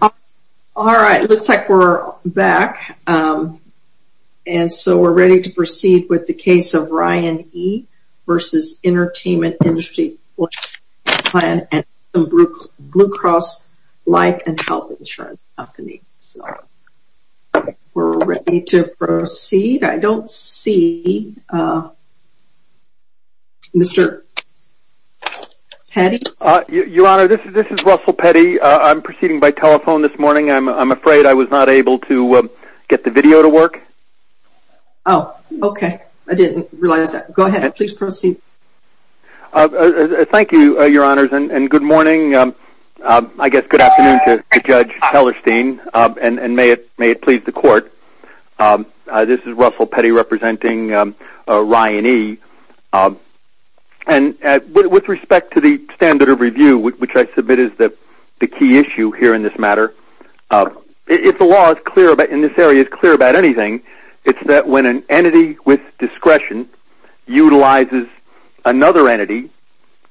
All right, looks like we're back. And so we're ready to proceed with the case of Ryan E. v. Entm't Industry Flex Plan and Blue Cross Life and Health Insurance Company. So we're ready to proceed. I don't see Mr. Petty. Your Honor, this is Russell Petty. I'm proceeding by telephone this morning. I'm afraid I was not able to get the video to work. Oh, okay. I didn't realize that. Go ahead. Please proceed. Thank you, Your Honors, and good morning. I guess good afternoon to Judge Hellerstein, and may it please the Court. This is Russell Petty representing Ryan E. And with respect to the standard of review, which I submit is the key issue here in this matter, if the law in this area is clear about anything, it's that when an entity with discretion utilizes another entity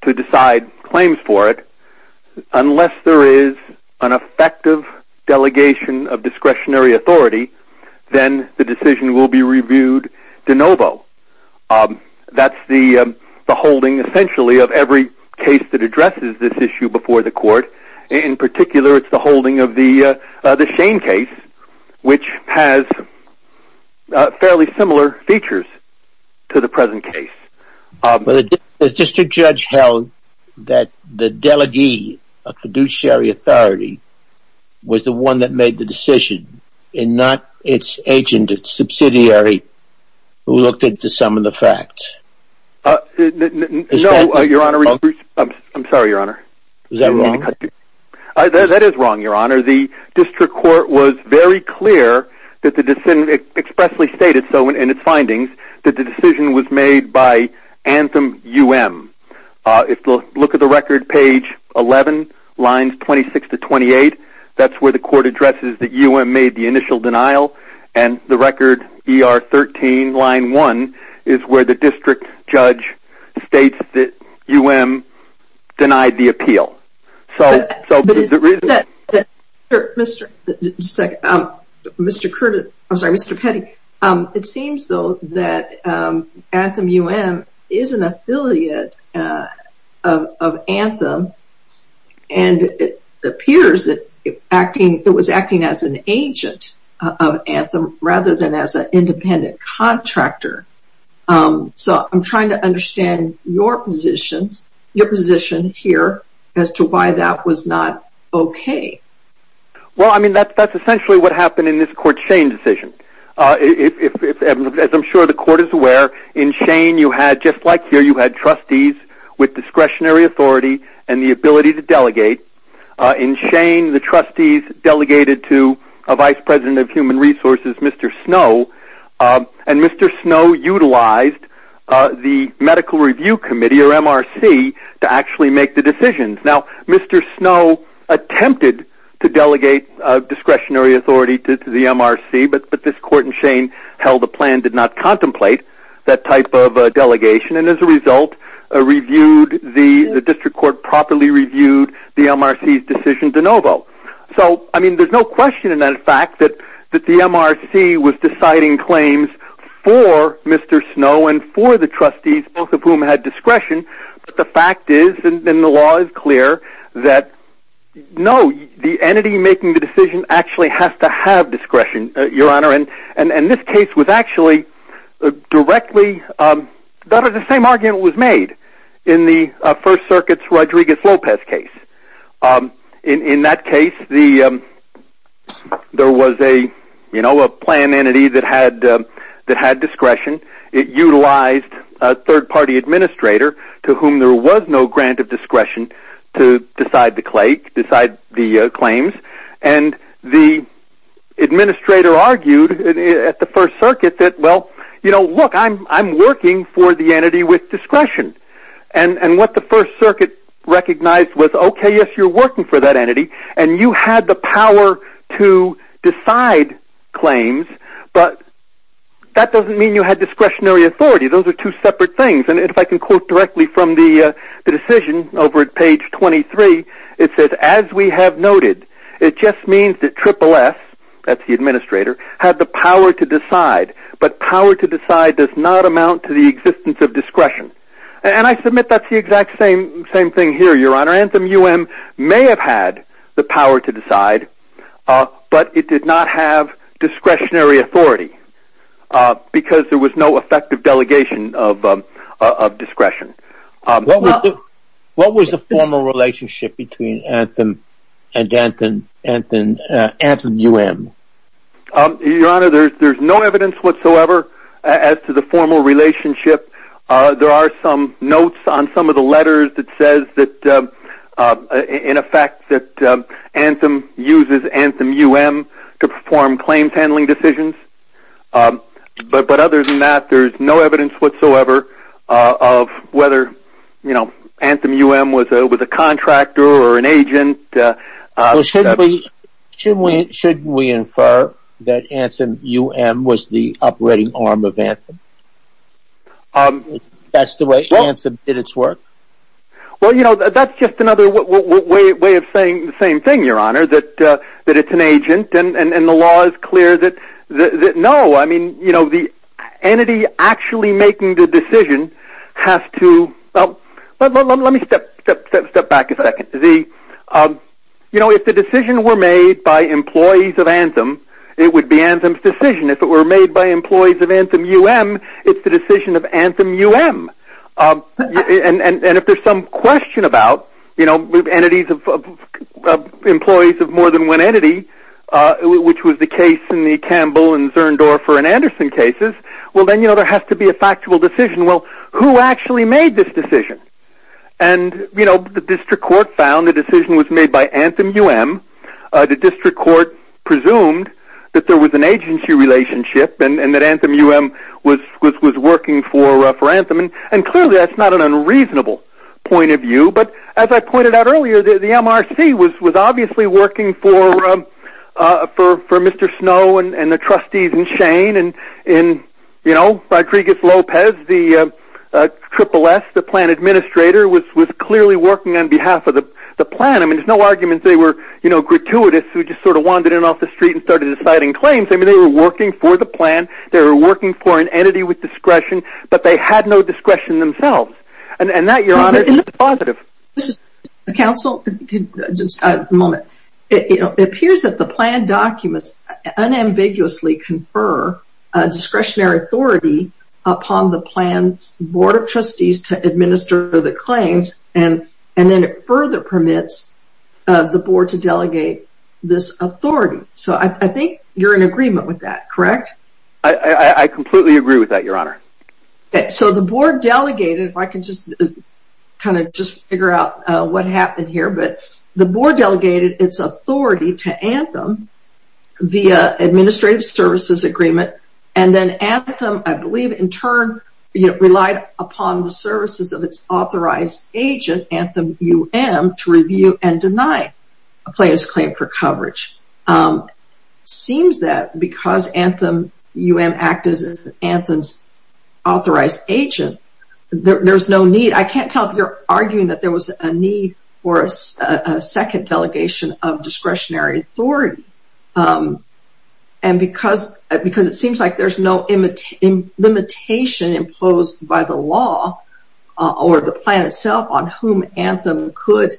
to decide claims for it, unless there is an effective delegation of discretionary authority, then the decision will be reviewed de novo. That's the holding, essentially, of every case that addresses this issue before the Court. In particular, it's the holding of the Shane case, which has fairly similar features to the present case. The district judge held that the delegee of fiduciary authority was the one that made the decision and not its agent, its subsidiary, who looked into some of the facts. No, Your Honor. I'm sorry, Your Honor. Is that wrong? That is wrong, Your Honor. The district court was very clear, expressly stated so in its findings, that the decision was made by Anthem U.M. If you look at the record, page 11, lines 26 to 28, that's where the Court addresses that U.M. made the initial denial. And the record, ER 13, line 1, is where the district judge states that U.M. denied the appeal. But is it reasonable? Just a second. Mr. Curtis, I'm sorry, Mr. Petty. It seems, though, that Anthem U.M. is an affiliate of Anthem, and it appears that it was acting as an agent of Anthem rather than as an independent contractor. So I'm trying to understand your position here as to why that was not okay. Well, I mean, that's essentially what happened in this Court's Shane decision. As I'm sure the Court is aware, in Shane you had, just like here, you had trustees with discretionary authority and the ability to delegate. In Shane, the trustees delegated to a vice president of human resources, Mr. Snow, and Mr. Snow utilized the Medical Review Committee, or MRC, to actually make the decisions. Now, Mr. Snow attempted to delegate discretionary authority to the MRC, but this Court in Shane held a plan, did not contemplate that type of delegation, and as a result reviewed, the district court properly reviewed the MRC's decision de novo. So, I mean, there's no question in that fact that the MRC was deciding claims for Mr. Snow and for the trustees, both of whom had discretion, but the fact is, and the law is clear, that no, the entity making the decision actually has to have discretion, Your Honor, and this case was actually directly, the same argument was made in the First Circuit's Rodriguez-Lopez case. In that case, there was a plan entity that had discretion. It utilized a third-party administrator to whom there was no grant of discretion to decide the claims, and the administrator argued at the First Circuit that, well, you know, look, I'm working for the entity with discretion, and what the First Circuit recognized was, okay, yes, you're working for that entity, and you had the power to decide claims, but that doesn't mean you had discretionary authority. Those are two separate things, and if I can quote directly from the decision over at page 23, it says, as we have noted, it just means that SSS, that's the administrator, had the power to decide, but power to decide does not amount to the existence of discretion, and I submit that's the exact same thing here, Your Honor. Anthem-UM may have had the power to decide, but it did not have discretionary authority because there was no effective delegation of discretion. What was the formal relationship between Anthem and Anthem-UM? Your Honor, there's no evidence whatsoever as to the formal relationship. There are some notes on some of the letters that says that, in effect, that Anthem uses Anthem-UM to perform claims handling decisions, but other than that, there's no evidence whatsoever of whether, you know, Anthem-UM was a contractor or an agent. Well, shouldn't we infer that Anthem-UM was the operating arm of Anthem? That's the way Anthem did its work? Well, you know, that's just another way of saying the same thing, Your Honor, that it's an agent, and the law is clear that, no, I mean, you know, the entity actually making the decision has to, well, let me step back a second. You know, if the decision were made by employees of Anthem, it would be Anthem's decision. If it were made by employees of Anthem-UM, it's the decision of Anthem-UM. And if there's some question about, you know, with employees of more than one entity, which was the case in the Campbell and Zerndorfer and Anderson cases, well, then, you know, there has to be a factual decision. Well, who actually made this decision? And, you know, the district court found the decision was made by Anthem-UM. The district court presumed that there was an agency relationship and that Anthem-UM was working for Anthem. And clearly, that's not an unreasonable point of view. But as I pointed out earlier, the MRC was obviously working for Mr. Snow and the trustees in Shane and, you know, Rodriguez-Lopez, the SSS, the plan administrator was clearly working on behalf of the plan. I mean, there's no argument they were, you know, gratuitous who just sort of wandered in off the street and started deciding claims. I mean, they were working for the plan. They were working for an entity with discretion. But they had no discretion themselves. And that, Your Honor, is positive. Counsel, just a moment. It appears that the plan documents unambiguously confer discretionary authority upon the plan's board of trustees to administer the claims, and then it further permits the board to delegate this authority. So I think you're in agreement with that, correct? I completely agree with that, Your Honor. So the board delegated, if I can just kind of just figure out what happened here, but the board delegated its authority to Anthem via administrative services agreement, and then Anthem, I believe, in turn relied upon the services of its authorized agent, Anthem-UM, to review and deny a plan's claim for coverage. It seems that because Anthem-UM acted as Anthem's authorized agent, there's no need. I can't tell if you're arguing that there was a need for a second delegation of discretionary authority. And because it seems like there's no limitation imposed by the law or the plan itself on whom Anthem could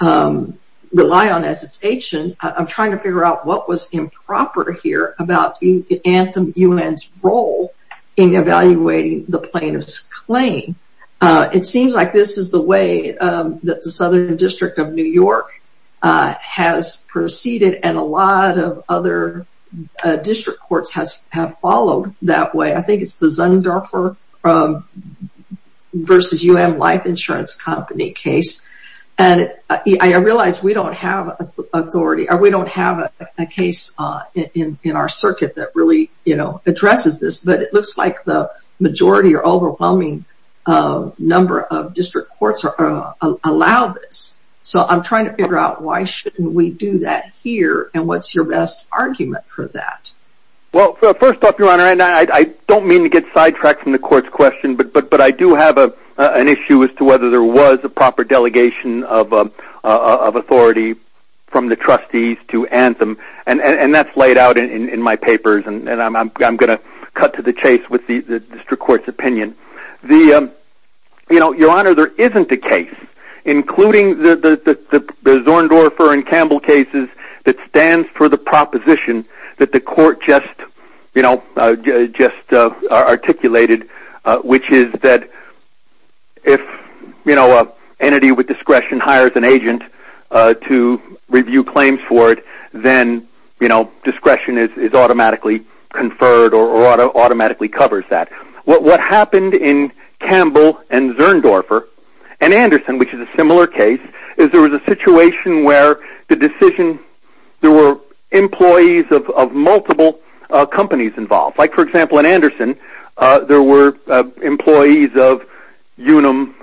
rely on as its agent, I'm trying to figure out what was improper here about Anthem-UM's role in evaluating the plaintiff's claim. It seems like this is the way that the Southern District of New York has proceeded and a lot of other district courts have followed that way. I think it's the Zunderfer v. UM Life Insurance Company case. And I realize we don't have authority or we don't have a case in our circuit that really, you know, addresses this, but it looks like the majority or overwhelming number of district courts allow this. So I'm trying to figure out why shouldn't we do that here and what's your best argument for that? Well, first off, Your Honor, and I don't mean to get sidetracked from the court's question, but I do have an issue as to whether there was a proper delegation of authority from the trustees to Anthem. And that's laid out in my papers, and I'm going to cut to the chase with the district court's opinion. Your Honor, there isn't a case, including the Zunderfer and Campbell cases, that stands for the proposition that the court just articulated, which is that if an entity with discretion hires an agent to review claims for it, then discretion is automatically conferred or automatically covers that. What happened in Campbell and Zunderfer and Anderson, which is a similar case, is there was a situation where there were employees of multiple companies involved. Like, for example, in Anderson, there were employees of Unum,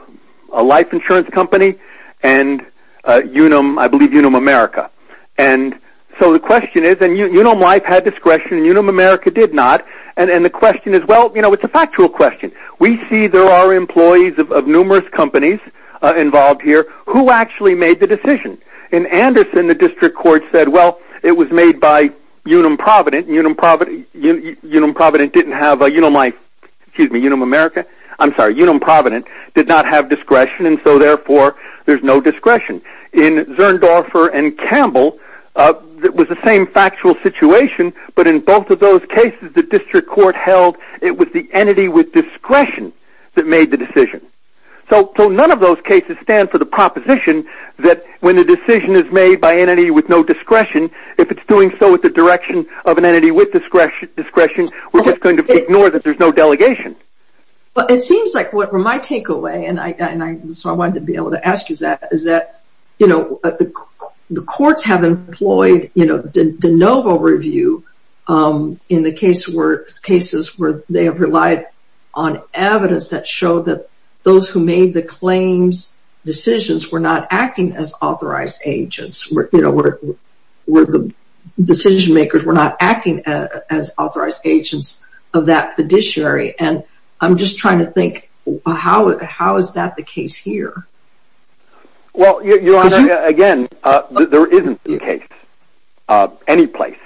a life insurance company, and Unum, I believe, Unum America. And so the question is, and Unum Life had discretion and Unum America did not, and the question is, well, you know, it's a factual question. We see there are employees of numerous companies involved here. Who actually made the decision? In Anderson, the district court said, well, it was made by Unum Provident, and Unum Provident didn't have, Unum Life, excuse me, Unum America, I'm sorry, Unum Provident did not have discretion, and so, therefore, there's no discretion. In Zunderfer and Campbell, it was the same factual situation, but in both of those cases, the district court held it was the entity with discretion that made the decision. So none of those cases stand for the proposition that when a decision is made by an entity with no discretion, if it's doing so with the direction of an entity with discretion, we're just going to ignore that there's no delegation. Well, it seems like what my takeaway, and so I wanted to be able to ask you that, is that, you know, the courts have employed, you know, de novo review in the cases where they have relied on evidence that showed that those who made the claims decisions were not acting as authorized agents. You know, the decision makers were not acting as authorized agents of that fiduciary, and I'm just trying to think, how is that the case here? Well, your Honor, again, there isn't a case, any place,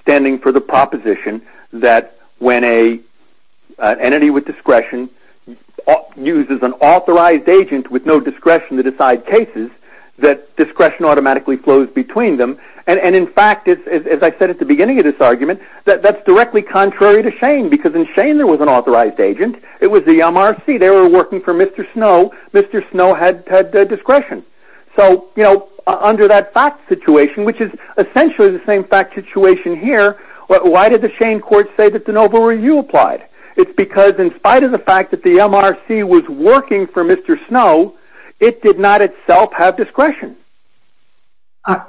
standing for the proposition that when an entity with discretion uses an authorized agent with no discretion to decide cases, that discretion automatically flows between them. And in fact, as I said at the beginning of this argument, that's directly contrary to Shane, because in Shane there was an authorized agent. It was the MRC. They were working for Mr. Snow. Mr. Snow had discretion. So, you know, under that fact situation, which is essentially the same fact situation here, why did the Shane court say that de novo review applied? It's because in spite of the fact that the MRC was working for Mr. Snow, it did not itself have discretion.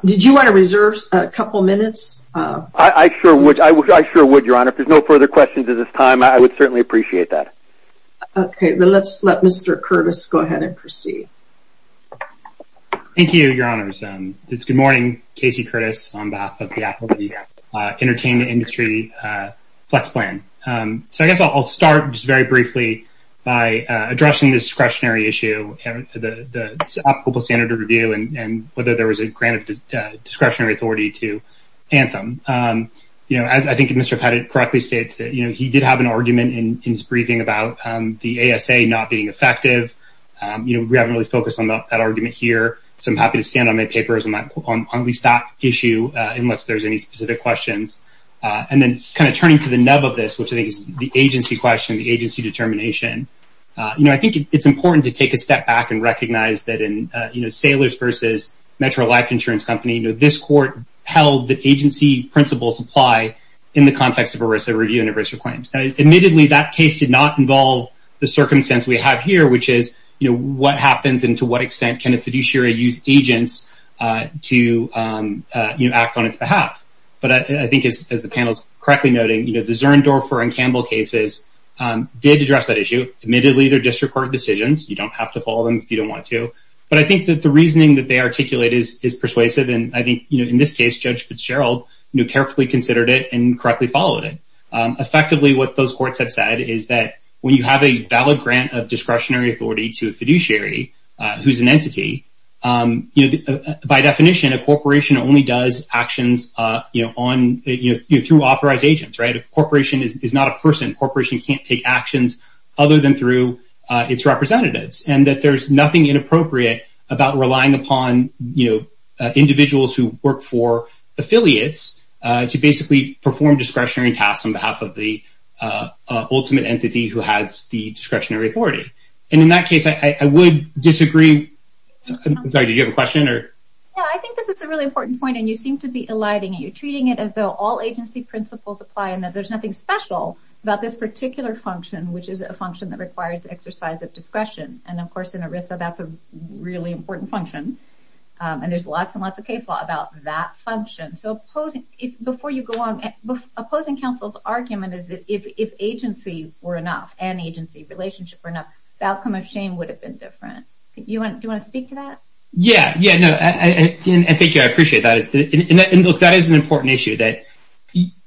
Did you want to reserve a couple minutes? I sure would, Your Honor. If there's no further questions at this time, I would certainly appreciate that. Okay. Let's let Mr. Curtis go ahead and proceed. Thank you, Your Honors. Good morning. Casey Curtis on behalf of the Apple Entertainment Industry Flex Plan. So I guess I'll start just very briefly by addressing the discretionary issue, the applicable standard of review, and whether there was a grant of discretionary authority to Anthem. You know, I think Mr. Pettit correctly states that, you know, he did have an argument in his briefing about the ASA not being effective. You know, we haven't really focused on that argument here. So I'm happy to stand on my papers on at least that issue unless there's any specific questions. And then kind of turning to the nub of this, which I think is the agency question, the agency determination, you know, I think it's important to take a step back and recognize that in, you know, Metro Life Insurance Company, you know, this court held that agency principles apply in the context of ERISA review and ERISA claims. Admittedly, that case did not involve the circumstance we have here, which is, you know, what happens and to what extent can a fiduciary use agents to, you know, act on its behalf. But I think, as the panel is correctly noting, you know, the Zern, Dorfer, and Campbell cases did address that issue. Admittedly, they're district court decisions. You don't have to follow them if you don't want to. But I think that the reasoning that they articulate is persuasive. And I think, you know, in this case, Judge Fitzgerald, you know, carefully considered it and correctly followed it. Effectively, what those courts have said is that when you have a valid grant of discretionary authority to a fiduciary, who's an entity, you know, by definition, a corporation only does actions, you know, on, you know, through authorized agents, right? A corporation is not a person. A corporation can't take actions other than through its representatives. And that there's nothing inappropriate about relying upon, you know, individuals who work for affiliates to basically perform discretionary tasks on behalf of the ultimate entity who has the discretionary authority. And in that case, I would disagree. Sorry, did you have a question? No, I think this is a really important point, and you seem to be eliding it. You're treating it as though all agency principles apply and that there's nothing special about this particular function, which is a function that requires the exercise of discretion. And of course, in ERISA, that's a really important function. And there's lots and lots of case law about that function. So before you go on, opposing counsel's argument is that if agency were enough, and agency relationship were enough, the outcome of shame would have been different. Do you want to speak to that? Yeah, yeah, no, I think I appreciate that. And, look, that is an important issue. I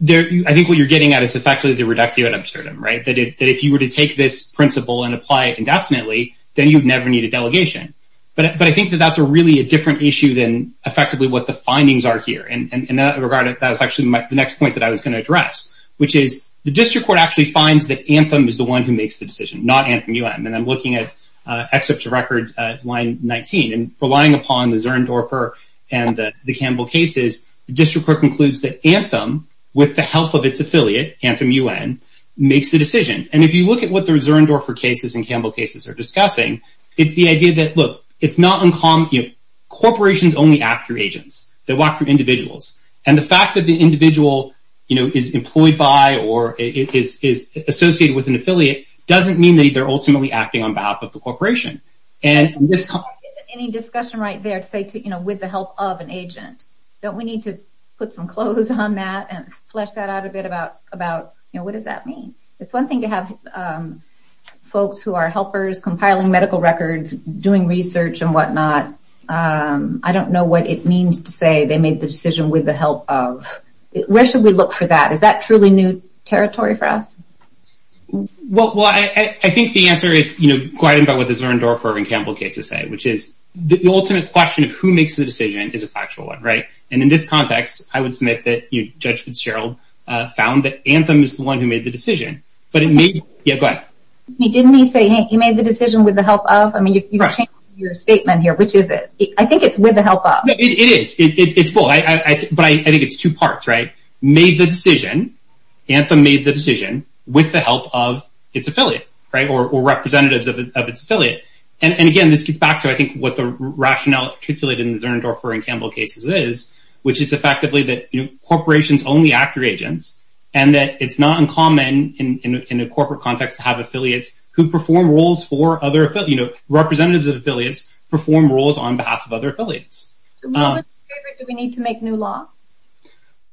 think what you're getting at is effectively the reductio ad absurdum, right, that if you were to take this principle and apply it indefinitely, then you'd never need a delegation. But I think that that's really a different issue than effectively what the findings are here. And in that regard, that was actually the next point that I was going to address, which is the district court actually finds that Anthem is the one who makes the decision, not Anthem-UM. And I'm looking at excerpt to record line 19. And relying upon the Zerndorfer and the Campbell cases, the district court concludes that Anthem, with the help of its affiliate, Anthem-UN, makes the decision. And if you look at what the Zerndorfer cases and Campbell cases are discussing, it's the idea that, look, it's not uncommon. Corporations only act through agents. They walk through individuals. And the fact that the individual, you know, is employed by or is associated with an affiliate doesn't mean that they're ultimately acting on behalf of the corporation. Any discussion right there to say, you know, with the help of an agent? Don't we need to put some clothes on that and flesh that out a bit about, you know, what does that mean? It's one thing to have folks who are helpers compiling medical records, doing research and whatnot. I don't know what it means to say they made the decision with the help of. Where should we look for that? Is that truly new territory for us? Well, I think the answer is, you know, go ahead about what the Zerndorfer and Campbell cases say, which is the ultimate question of who makes the decision is a factual one, right? And in this context, I would submit that Judge Fitzgerald found that Anthem is the one who made the decision. Yeah, go ahead. Didn't he say he made the decision with the help of? I mean, you changed your statement here. Which is it? I think it's with the help of. It is. It's both. But I think it's two parts, right? He made the decision. Anthem made the decision with the help of its affiliate or representatives of its affiliate. And again, this gets back to, I think, what the rationale articulated in the Zerndorfer and Campbell cases is, which is effectively that corporations only act through agents and that it's not uncommon in a corporate context to have affiliates who perform roles for other representatives of affiliates perform roles on behalf of other affiliates. Do we need to make new law?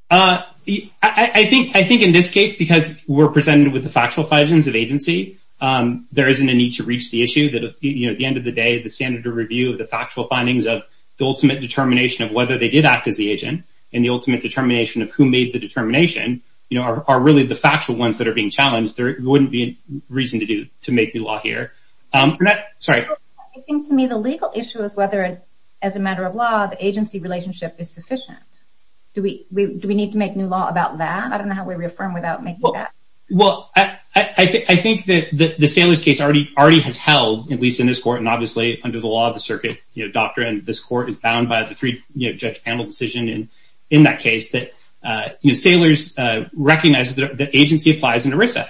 I think in this case, because we're presented with the factual findings of agency, there isn't a need to reach the issue that at the end of the day, the standard of review of the factual findings of the ultimate determination of whether they did act as the agent and the ultimate determination of who made the determination are really the factual ones that are being challenged. There wouldn't be reason to make new law here. Sorry. I think, to me, the legal issue is whether, as a matter of law, the agency relationship is sufficient. Do we need to make new law about that? I don't know how we reaffirm without making that. Well, I think that the Saylor's case already has held, at least in this court, and obviously under the law of the circuit doctrine, this court is bound by the three-judge panel decision in that case, that Saylor's recognizes that agency applies in ERISA.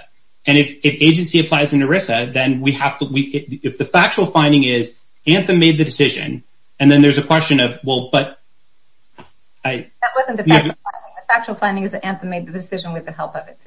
And if agency applies in ERISA, then if the factual finding is Anthem made the decision, and then there's a question of, well, but... That wasn't the factual finding. The factual finding is that Anthem made the decision with the help of it.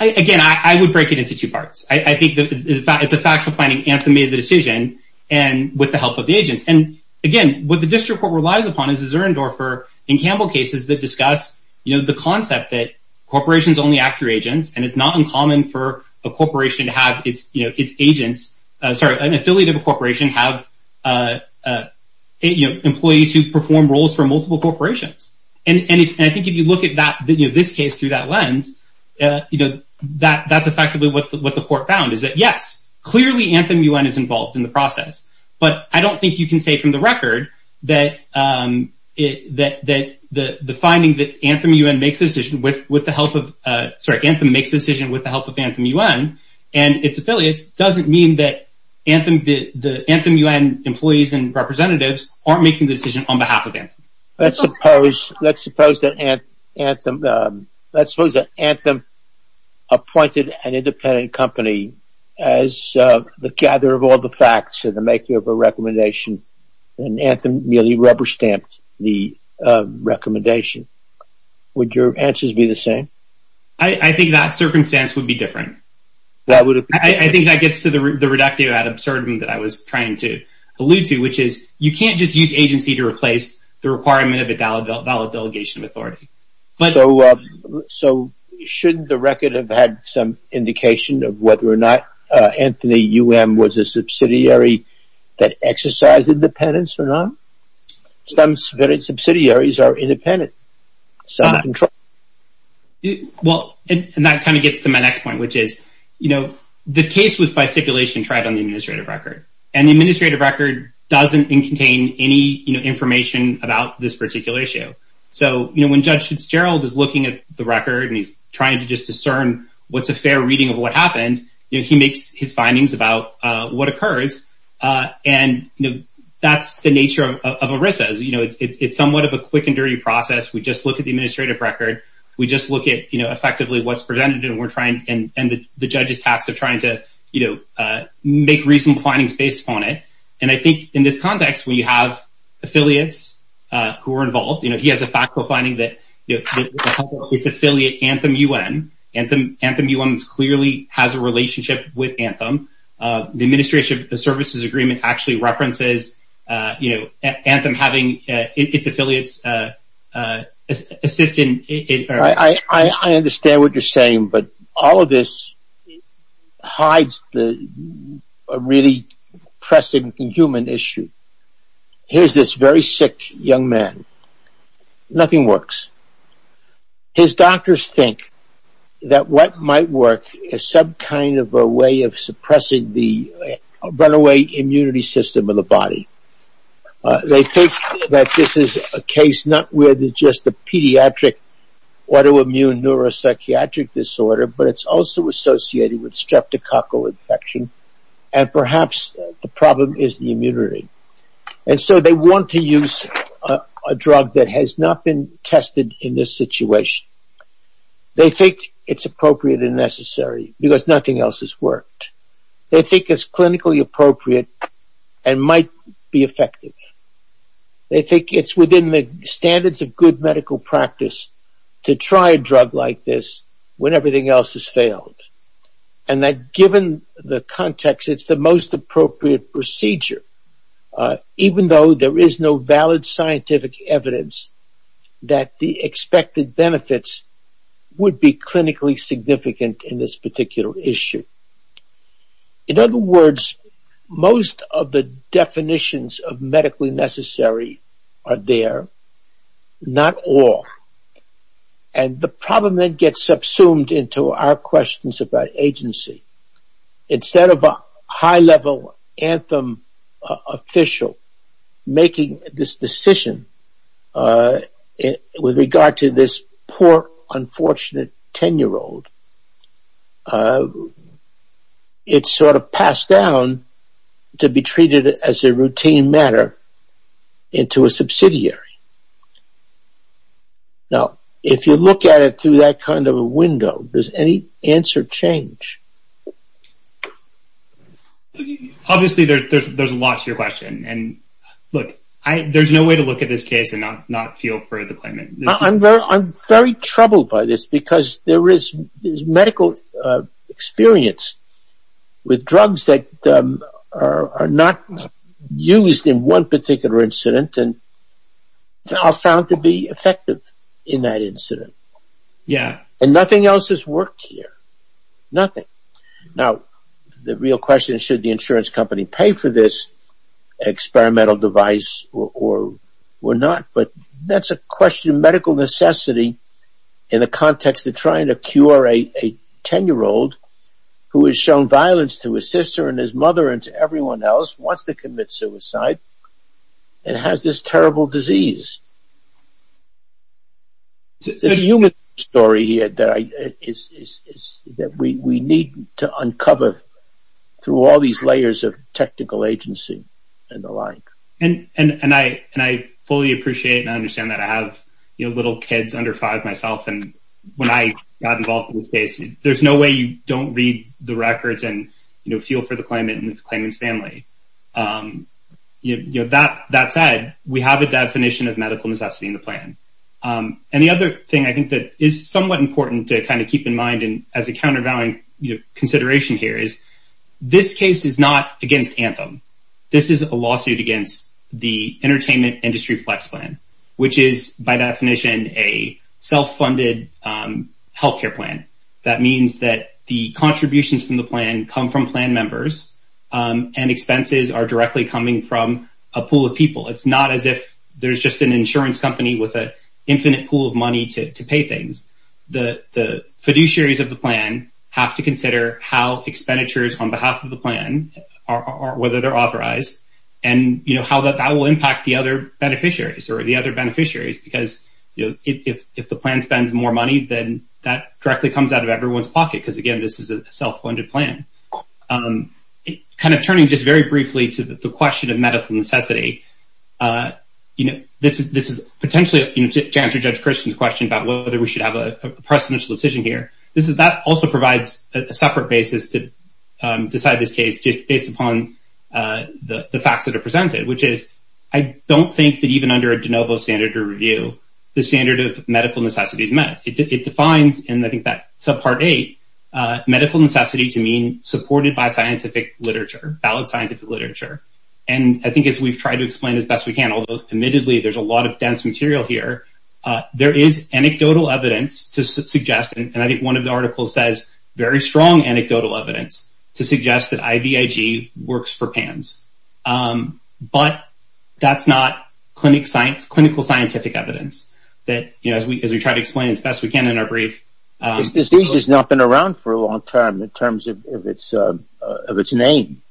Again, I would break it into two parts. I think it's a factual finding, Anthem made the decision, and with the help of the agents. And, again, what the district court relies upon is the Zuerendorfer and Campbell cases that discuss the concept that corporations only act through agents, and it's not uncommon for a corporation to have its agents— sorry, an affiliate of a corporation have employees who perform roles for multiple corporations. And I think if you look at this case through that lens, that's effectively what the court found, is that, yes, clearly Anthem UN is involved in the process. But I don't think you can say from the record that the finding that Anthem makes a decision with the help of Anthem UN and its affiliates doesn't mean that the Anthem UN employees and representatives aren't making the decision on behalf of Anthem. Let's suppose that Anthem appointed an independent company as the gatherer of all the facts in the making of a recommendation, and Anthem merely rubber-stamped the recommendation. Would your answers be the same? I think that circumstance would be different. I think that gets to the reductio ad absurdum that I was trying to allude to, which is you can't just use agency to replace the requirement of a valid delegation of authority. So, shouldn't the record have had some indication of whether or not Anthem UN was a subsidiary that exercised independence or not? Some subsidiaries are independent. Well, and that kind of gets to my next point, which is, you know, the case was by stipulation tried on the administrative record. And the administrative record doesn't contain any information about this particular issue. So, you know, when Judge Fitzgerald is looking at the record and he's trying to just discern what's a fair reading of what happened, he makes his findings about what occurs. And that's the nature of ERISA. You know, it's somewhat of a quick and dirty process. We just look at the administrative record. We just look at, you know, effectively what's presented. And we're trying and the judge's task of trying to, you know, make reasonable findings based upon it. And I think in this context, we have affiliates who are involved. You know, he has a factual finding that it's affiliate Anthem UN. Anthem UN clearly has a relationship with Anthem. The administration services agreement actually references, you know, Anthem having its affiliates assisting. I understand what you're saying, but all of this hides the really pressing human issue. Here's this very sick young man. Nothing works. His doctors think that what might work is some kind of a way of suppressing the runaway immunity system of the body. They think that this is a case not with just the pediatric autoimmune neuropsychiatric disorder, but it's also associated with streptococcal infection and perhaps the problem is the immunity. And so they want to use a drug that has not been tested in this situation. They think it's appropriate and necessary because nothing else has worked. They think it's clinically appropriate and might be effective. They think it's within the standards of good medical practice to try a drug like this when everything else has failed. And that given the context, it's the most appropriate procedure, even though there is no valid scientific evidence that the expected benefits would be clinically significant in this particular issue. In other words, most of the definitions of medically necessary are there, not all. And the problem then gets subsumed into our questions about agency. Instead of a high-level anthem official making this decision with regard to this poor, unfortunate 10-year-old, it's sort of passed down to be treated as a routine matter into a subsidiary. Now, if you look at it through that kind of a window, does any answer change? Obviously, there's a lot to your question. And look, there's no way to look at this case and not feel for the claimant. I'm very troubled by this because there is medical experience with drugs that are not used in one particular incident. And they are found to be effective in that incident. Yeah. And nothing else has worked here. Nothing. Now, the real question is should the insurance company pay for this experimental device or not? But that's a question of medical necessity in the context of trying to cure a 10-year-old who has shown violence to his sister and his mother and to everyone else, wants to commit suicide, and has this terrible disease. There's a human story here that we need to uncover through all these layers of technical agency and the like. And I fully appreciate and understand that I have little kids under five myself. And when I got involved in this case, there's no way you don't read the records and feel for the claimant and the claimant's family. That said, we have a definition of medical necessity in the plan. And the other thing I think that is somewhat important to kind of keep in mind as a countervailing consideration here is this case is not against Anthem. This is a lawsuit against the Entertainment Industry Flex Plan, which is by definition a self-funded health care plan. That means that the contributions from the plan come from plan members, and expenses are directly coming from a pool of people. It's not as if there's just an insurance company with an infinite pool of money to pay things. The fiduciaries of the plan have to consider how expenditures on behalf of the plan, whether they're authorized, and how that will impact the other beneficiaries, because if the plan spends more money, then that directly comes out of everyone's pocket, because, again, this is a self-funded plan. Kind of turning just very briefly to the question of medical necessity, this is potentially to answer Judge Christian's question about whether we should have a presidential decision here. That also provides a separate basis to decide this case based upon the facts that are presented, which is I don't think that even under a de novo standard review, the standard of medical necessity is met. It defines, and I think that's subpart eight, medical necessity to mean supported by scientific literature, valid scientific literature. And I think as we've tried to explain as best we can, although admittedly there's a lot of dense material here, there is anecdotal evidence to suggest, and I think one of the articles says very strong anecdotal evidence, to suggest that IVIG works for PANS. But that's not clinical scientific evidence that, as we try to explain as best we can in our brief. This disease has not been around for a long time in terms of its name.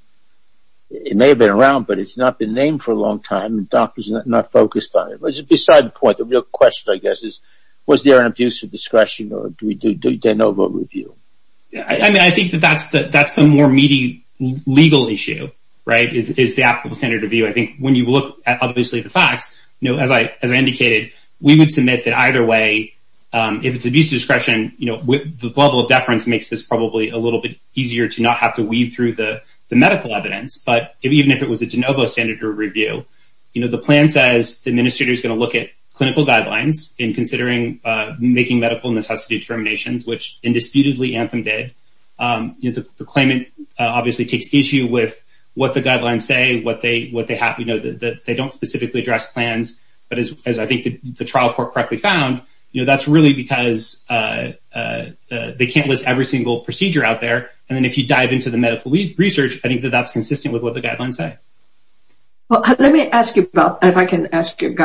It may have been around, but it's not been named for a long time, and doctors are not focused on it. Besides the point, the real question, I guess, is was there an abuse of discretion, or do we do de novo review? I think that that's the more meaty legal issue, is the applicable standard review. I think when you look at obviously the facts, as I indicated, we would submit that either way, if it's abuse of discretion, the level of deference makes this probably a little bit easier to not have to weed through the medical evidence. But even if it was a de novo standard review, the plan says the administrator is going to look at clinical guidelines in considering making medical necessity determinations, which indisputably Anthem did. The claimant obviously takes issue with what the guidelines say, what they have. They don't specifically address plans, but as I think the trial court correctly found, that's really because they can't list every single procedure out there. And then if you dive into the medical research, I think that that's consistent with what the guidelines say. Well, let me ask you about, if I can ask you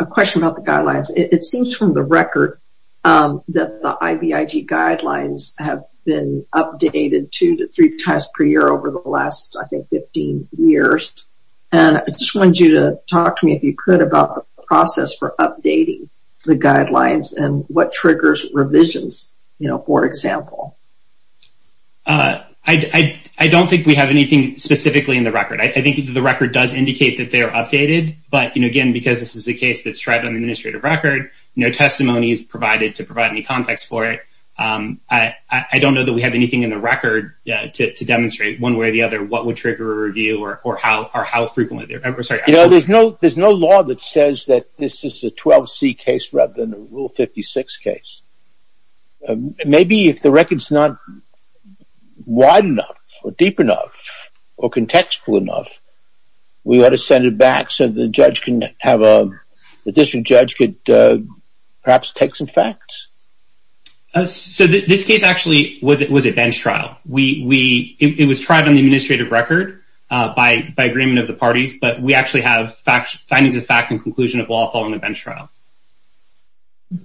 a question about the guidelines. It seems from the record that the IBIG guidelines have been updated two to three times per year over the last, I think, 15 years. And I just wanted you to talk to me, if you could, about the process for updating the guidelines and what triggers revisions, for example. I don't think we have anything specifically in the record. I think the record does indicate that they are updated. But again, because this is a case that's tried on the administrative record, no testimony is provided to provide any context for it. I don't know that we have anything in the record to demonstrate one way or the other what would trigger a review or how frequently. There's no law that says that this is a 12C case rather than a Rule 56 case. Maybe if the record's not wide enough or deep enough or contextual enough, we ought to send it back so the judge can have a, the district judge could perhaps take some facts. So this case actually was a bench trial. It was tried on the administrative record by agreement of the parties, but we actually have findings of fact and conclusion of law following the bench trial. Can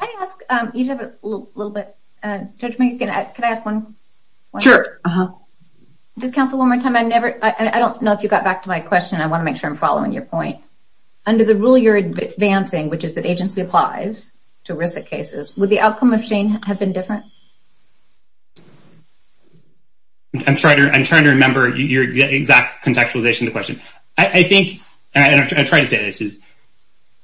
I ask, you have a little bit of judgment. Can I ask one? Sure. Just counsel one more time. I don't know if you got back to my question. I want to make sure I'm following your point. Under the rule you're advancing, which is that agency applies to risk cases, would the outcome of Shane have been different? I'm trying to remember your exact contextualization of the question. I think, and I'm trying to say this, is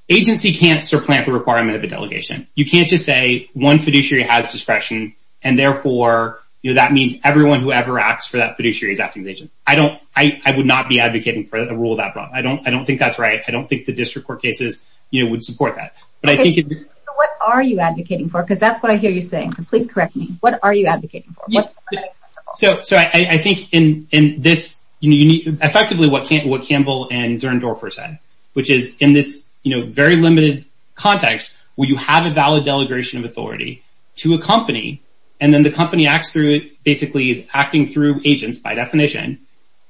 agency can't supplant the requirement of a delegation. You can't just say one fiduciary has discretion and therefore that means everyone who ever acts for that fiduciary is acting as agent. I don't, I would not be advocating for a rule that broad. I don't think that's right. I don't think the district court cases would support that. So what are you advocating for? Because that's what I hear you saying. So please correct me. What are you advocating for? So I think in this, effectively what Campbell and Zern Dorfer said, which is in this, you know, very limited context where you have a valid delegation of authority to a company, and then the company acts through it basically is acting through agents by definition.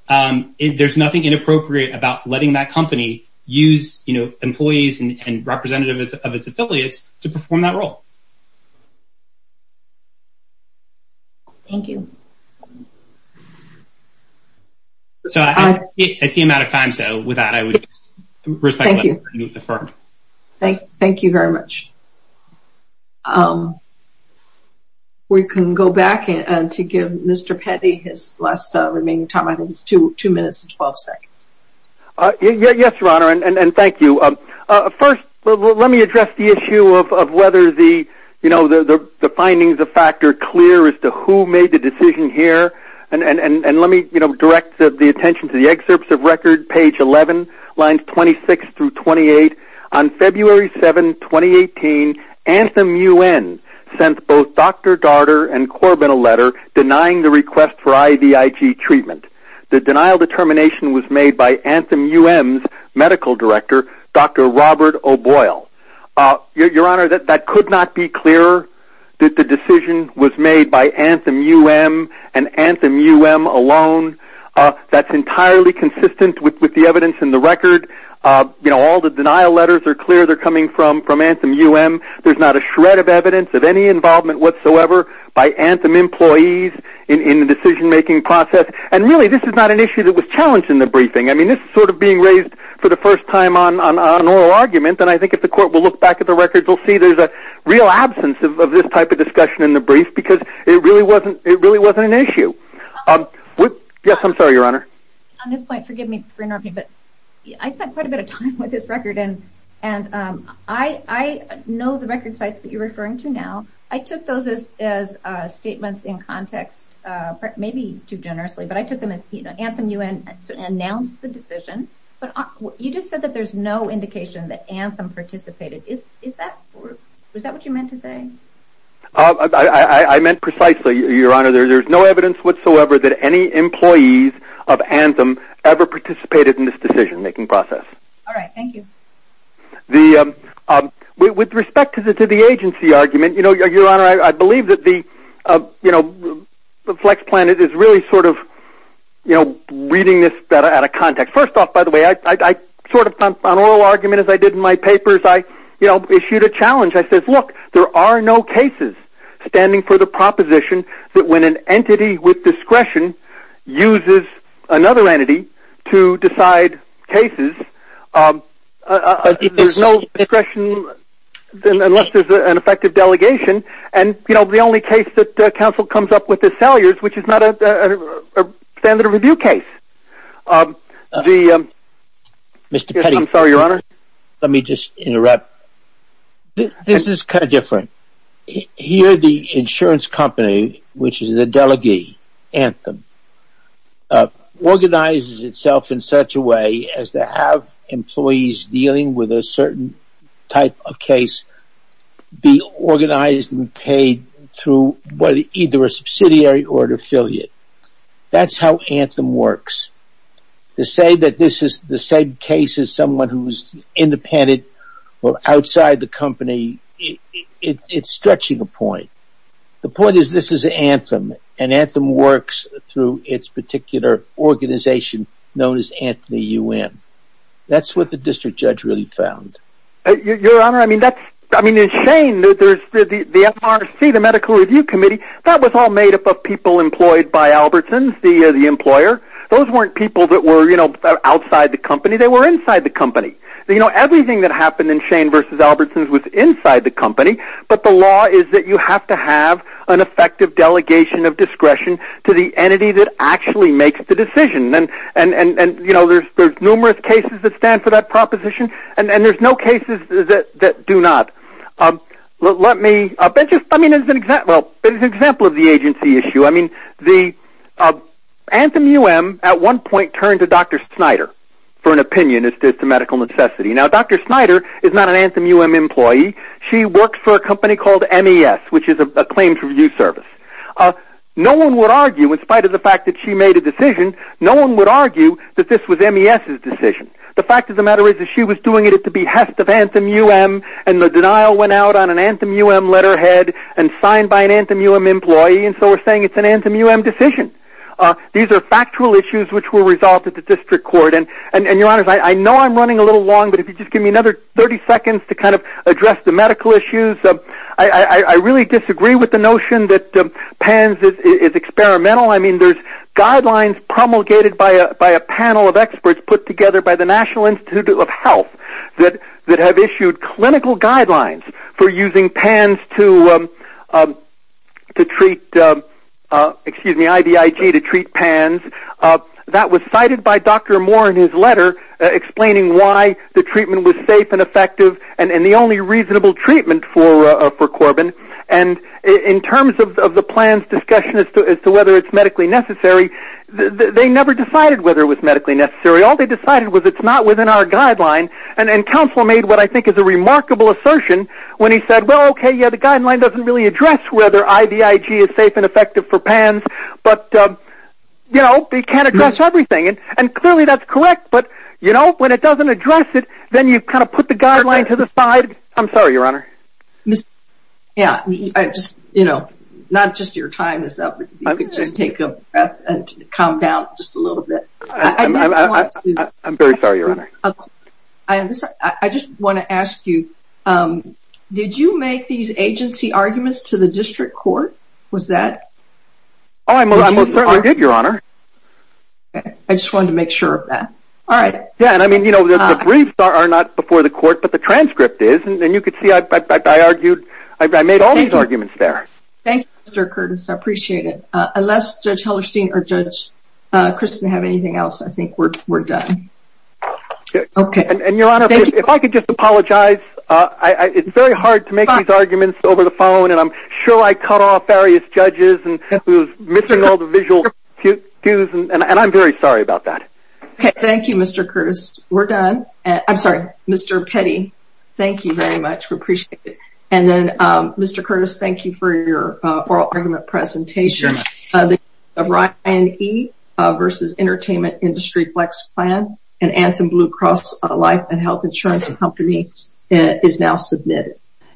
There's nothing inappropriate about letting that company use, you know, Thank you. So I see him out of time, so with that I would respectfully move to defer. Thank you very much. We can go back to give Mr. Petty his last remaining time. I think it's two minutes and 12 seconds. Yes, Your Honor, and thank you. First, let me address the issue of whether the, you know, the findings of fact are clear as to who made the decision here. And let me, you know, direct the attention to the excerpts of record, page 11, lines 26 through 28. On February 7, 2018, Anthem UN sent both Dr. Darter and Corbin a letter denying the request for IVIG treatment. The denial determination was made by Anthem UM's medical director, Dr. Robert O'Boyle. Your Honor, that could not be clearer. The decision was made by Anthem UM and Anthem UM alone. That's entirely consistent with the evidence in the record. You know, all the denial letters are clear they're coming from Anthem UM. There's not a shred of evidence of any involvement whatsoever by Anthem employees in the decision-making process. And really, this is not an issue that was challenged in the briefing. I mean, this is sort of being raised for the first time on oral argument. And I think if the court will look back at the records, we'll see there's a real absence of this type of discussion in the brief because it really wasn't an issue. Yes, I'm sorry, Your Honor. On this point, forgive me for interrupting, but I spent quite a bit of time with this record. And I know the record sites that you're referring to now. I took those as statements in context, maybe too generously. But I took them as Anthem UM announced the decision. But you just said that there's no indication that Anthem participated. Is that what you meant to say? I meant precisely, Your Honor, there's no evidence whatsoever that any employees of Anthem ever participated in this decision-making process. All right. Thank you. With respect to the agency argument, Your Honor, I believe that FlexPlanet is really sort of reading this out of context. First off, by the way, on oral argument, as I did in my papers, I issued a challenge. I said, look, there are no cases standing for the proposition that when an entity with discretion uses another entity to decide cases, there's no discretion unless there's an effective delegation. And, you know, the only case that counsel comes up with is Salyers, which is not a standard of review case. Mr. Petty. I'm sorry, Your Honor. Let me just interrupt. This is kind of different. Here the insurance company, which is the delegee, Anthem, organizes itself in such a way as to have employees dealing with a certain type of case be organized and paid through either a subsidiary or an affiliate. That's how Anthem works. To say that this is the same case as someone who's independent or outside the company, it's stretching a point. The point is this is Anthem, and Anthem works through its particular organization known as Anthony UN. That's what the district judge really found. Your Honor, I mean, it's insane that there's the MRC, the Medical Review Committee, that was all made up of people employed by Albertson, the employer. Those weren't people that were, you know, outside the company. They were inside the company. You know, everything that happened in Shane v. Albertson's was inside the company, but the law is that you have to have an effective delegation of discretion to the entity that actually makes the decision. And, you know, there's numerous cases that stand for that proposition, and there's no cases that do not. Let me, I mean, as an example of the agency issue, I mean, Anthem UM at one point turned to Dr. Snyder for an opinion as to medical necessity. Now, Dr. Snyder is not an Anthem UM employee. She works for a company called MES, which is a claims review service. No one would argue, in spite of the fact that she made a decision, no one would argue that this was MES's decision. The fact of the matter is that she was doing it at the behest of Anthem UM, and the denial went out on an Anthem UM letterhead and signed by an Anthem UM employee, and so we're saying it's an Anthem UM decision. These are factual issues which will result at the district court. And, Your Honors, I know I'm running a little long, but if you could just give me another 30 seconds to kind of address the medical issues. I really disagree with the notion that PANS is experimental. I mean, there's guidelines promulgated by a panel of experts put together by the National Institute of Health that have issued clinical guidelines for using PANS to treat, excuse me, IDIG to treat PANS. That was cited by Dr. Moore in his letter explaining why the treatment was safe and effective and the only reasonable treatment for Corbin. And in terms of the plan's discussion as to whether it's medically necessary, they never decided whether it was medically necessary. All they decided was it's not within our guideline, and Counselor made what I think is a remarkable assertion when he said, well, okay, yeah, the guideline doesn't really address whether IDIG is safe and effective for PANS, but, you know, they can't address everything. And clearly that's correct, but, you know, when it doesn't address it, then you've kind of put the guideline to the side. I'm sorry, Your Honor. Yeah, I just, you know, not just your time is up. If you could just take a breath and calm down just a little bit. I'm very sorry, Your Honor. I just want to ask you, did you make these agency arguments to the district court? Was that? Oh, I most certainly did, Your Honor. I just wanted to make sure of that. All right. Yeah, and I mean, you know, the briefs are not before the court, but the transcript is, and you could see I argued, I made all these arguments there. Thank you, Mr. Curtis. I appreciate it. Unless Judge Hellerstein or Judge Christin have anything else, I think we're done. Okay. And, Your Honor, if I could just apologize, it's very hard to make these arguments over the phone, and I'm sure I cut off various judges and was missing all the visual cues, and I'm very sorry about that. Okay. Thank you, Mr. Curtis. We're done. I'm sorry. Mr. Petty, thank you very much. We appreciate it. And then, Mr. Curtis, thank you for your oral argument presentation. Sure. The Ryan E. versus Entertainment Industry Flex Plan, an Anthem Blue Cross Life and Health Insurance Company, is now submitted.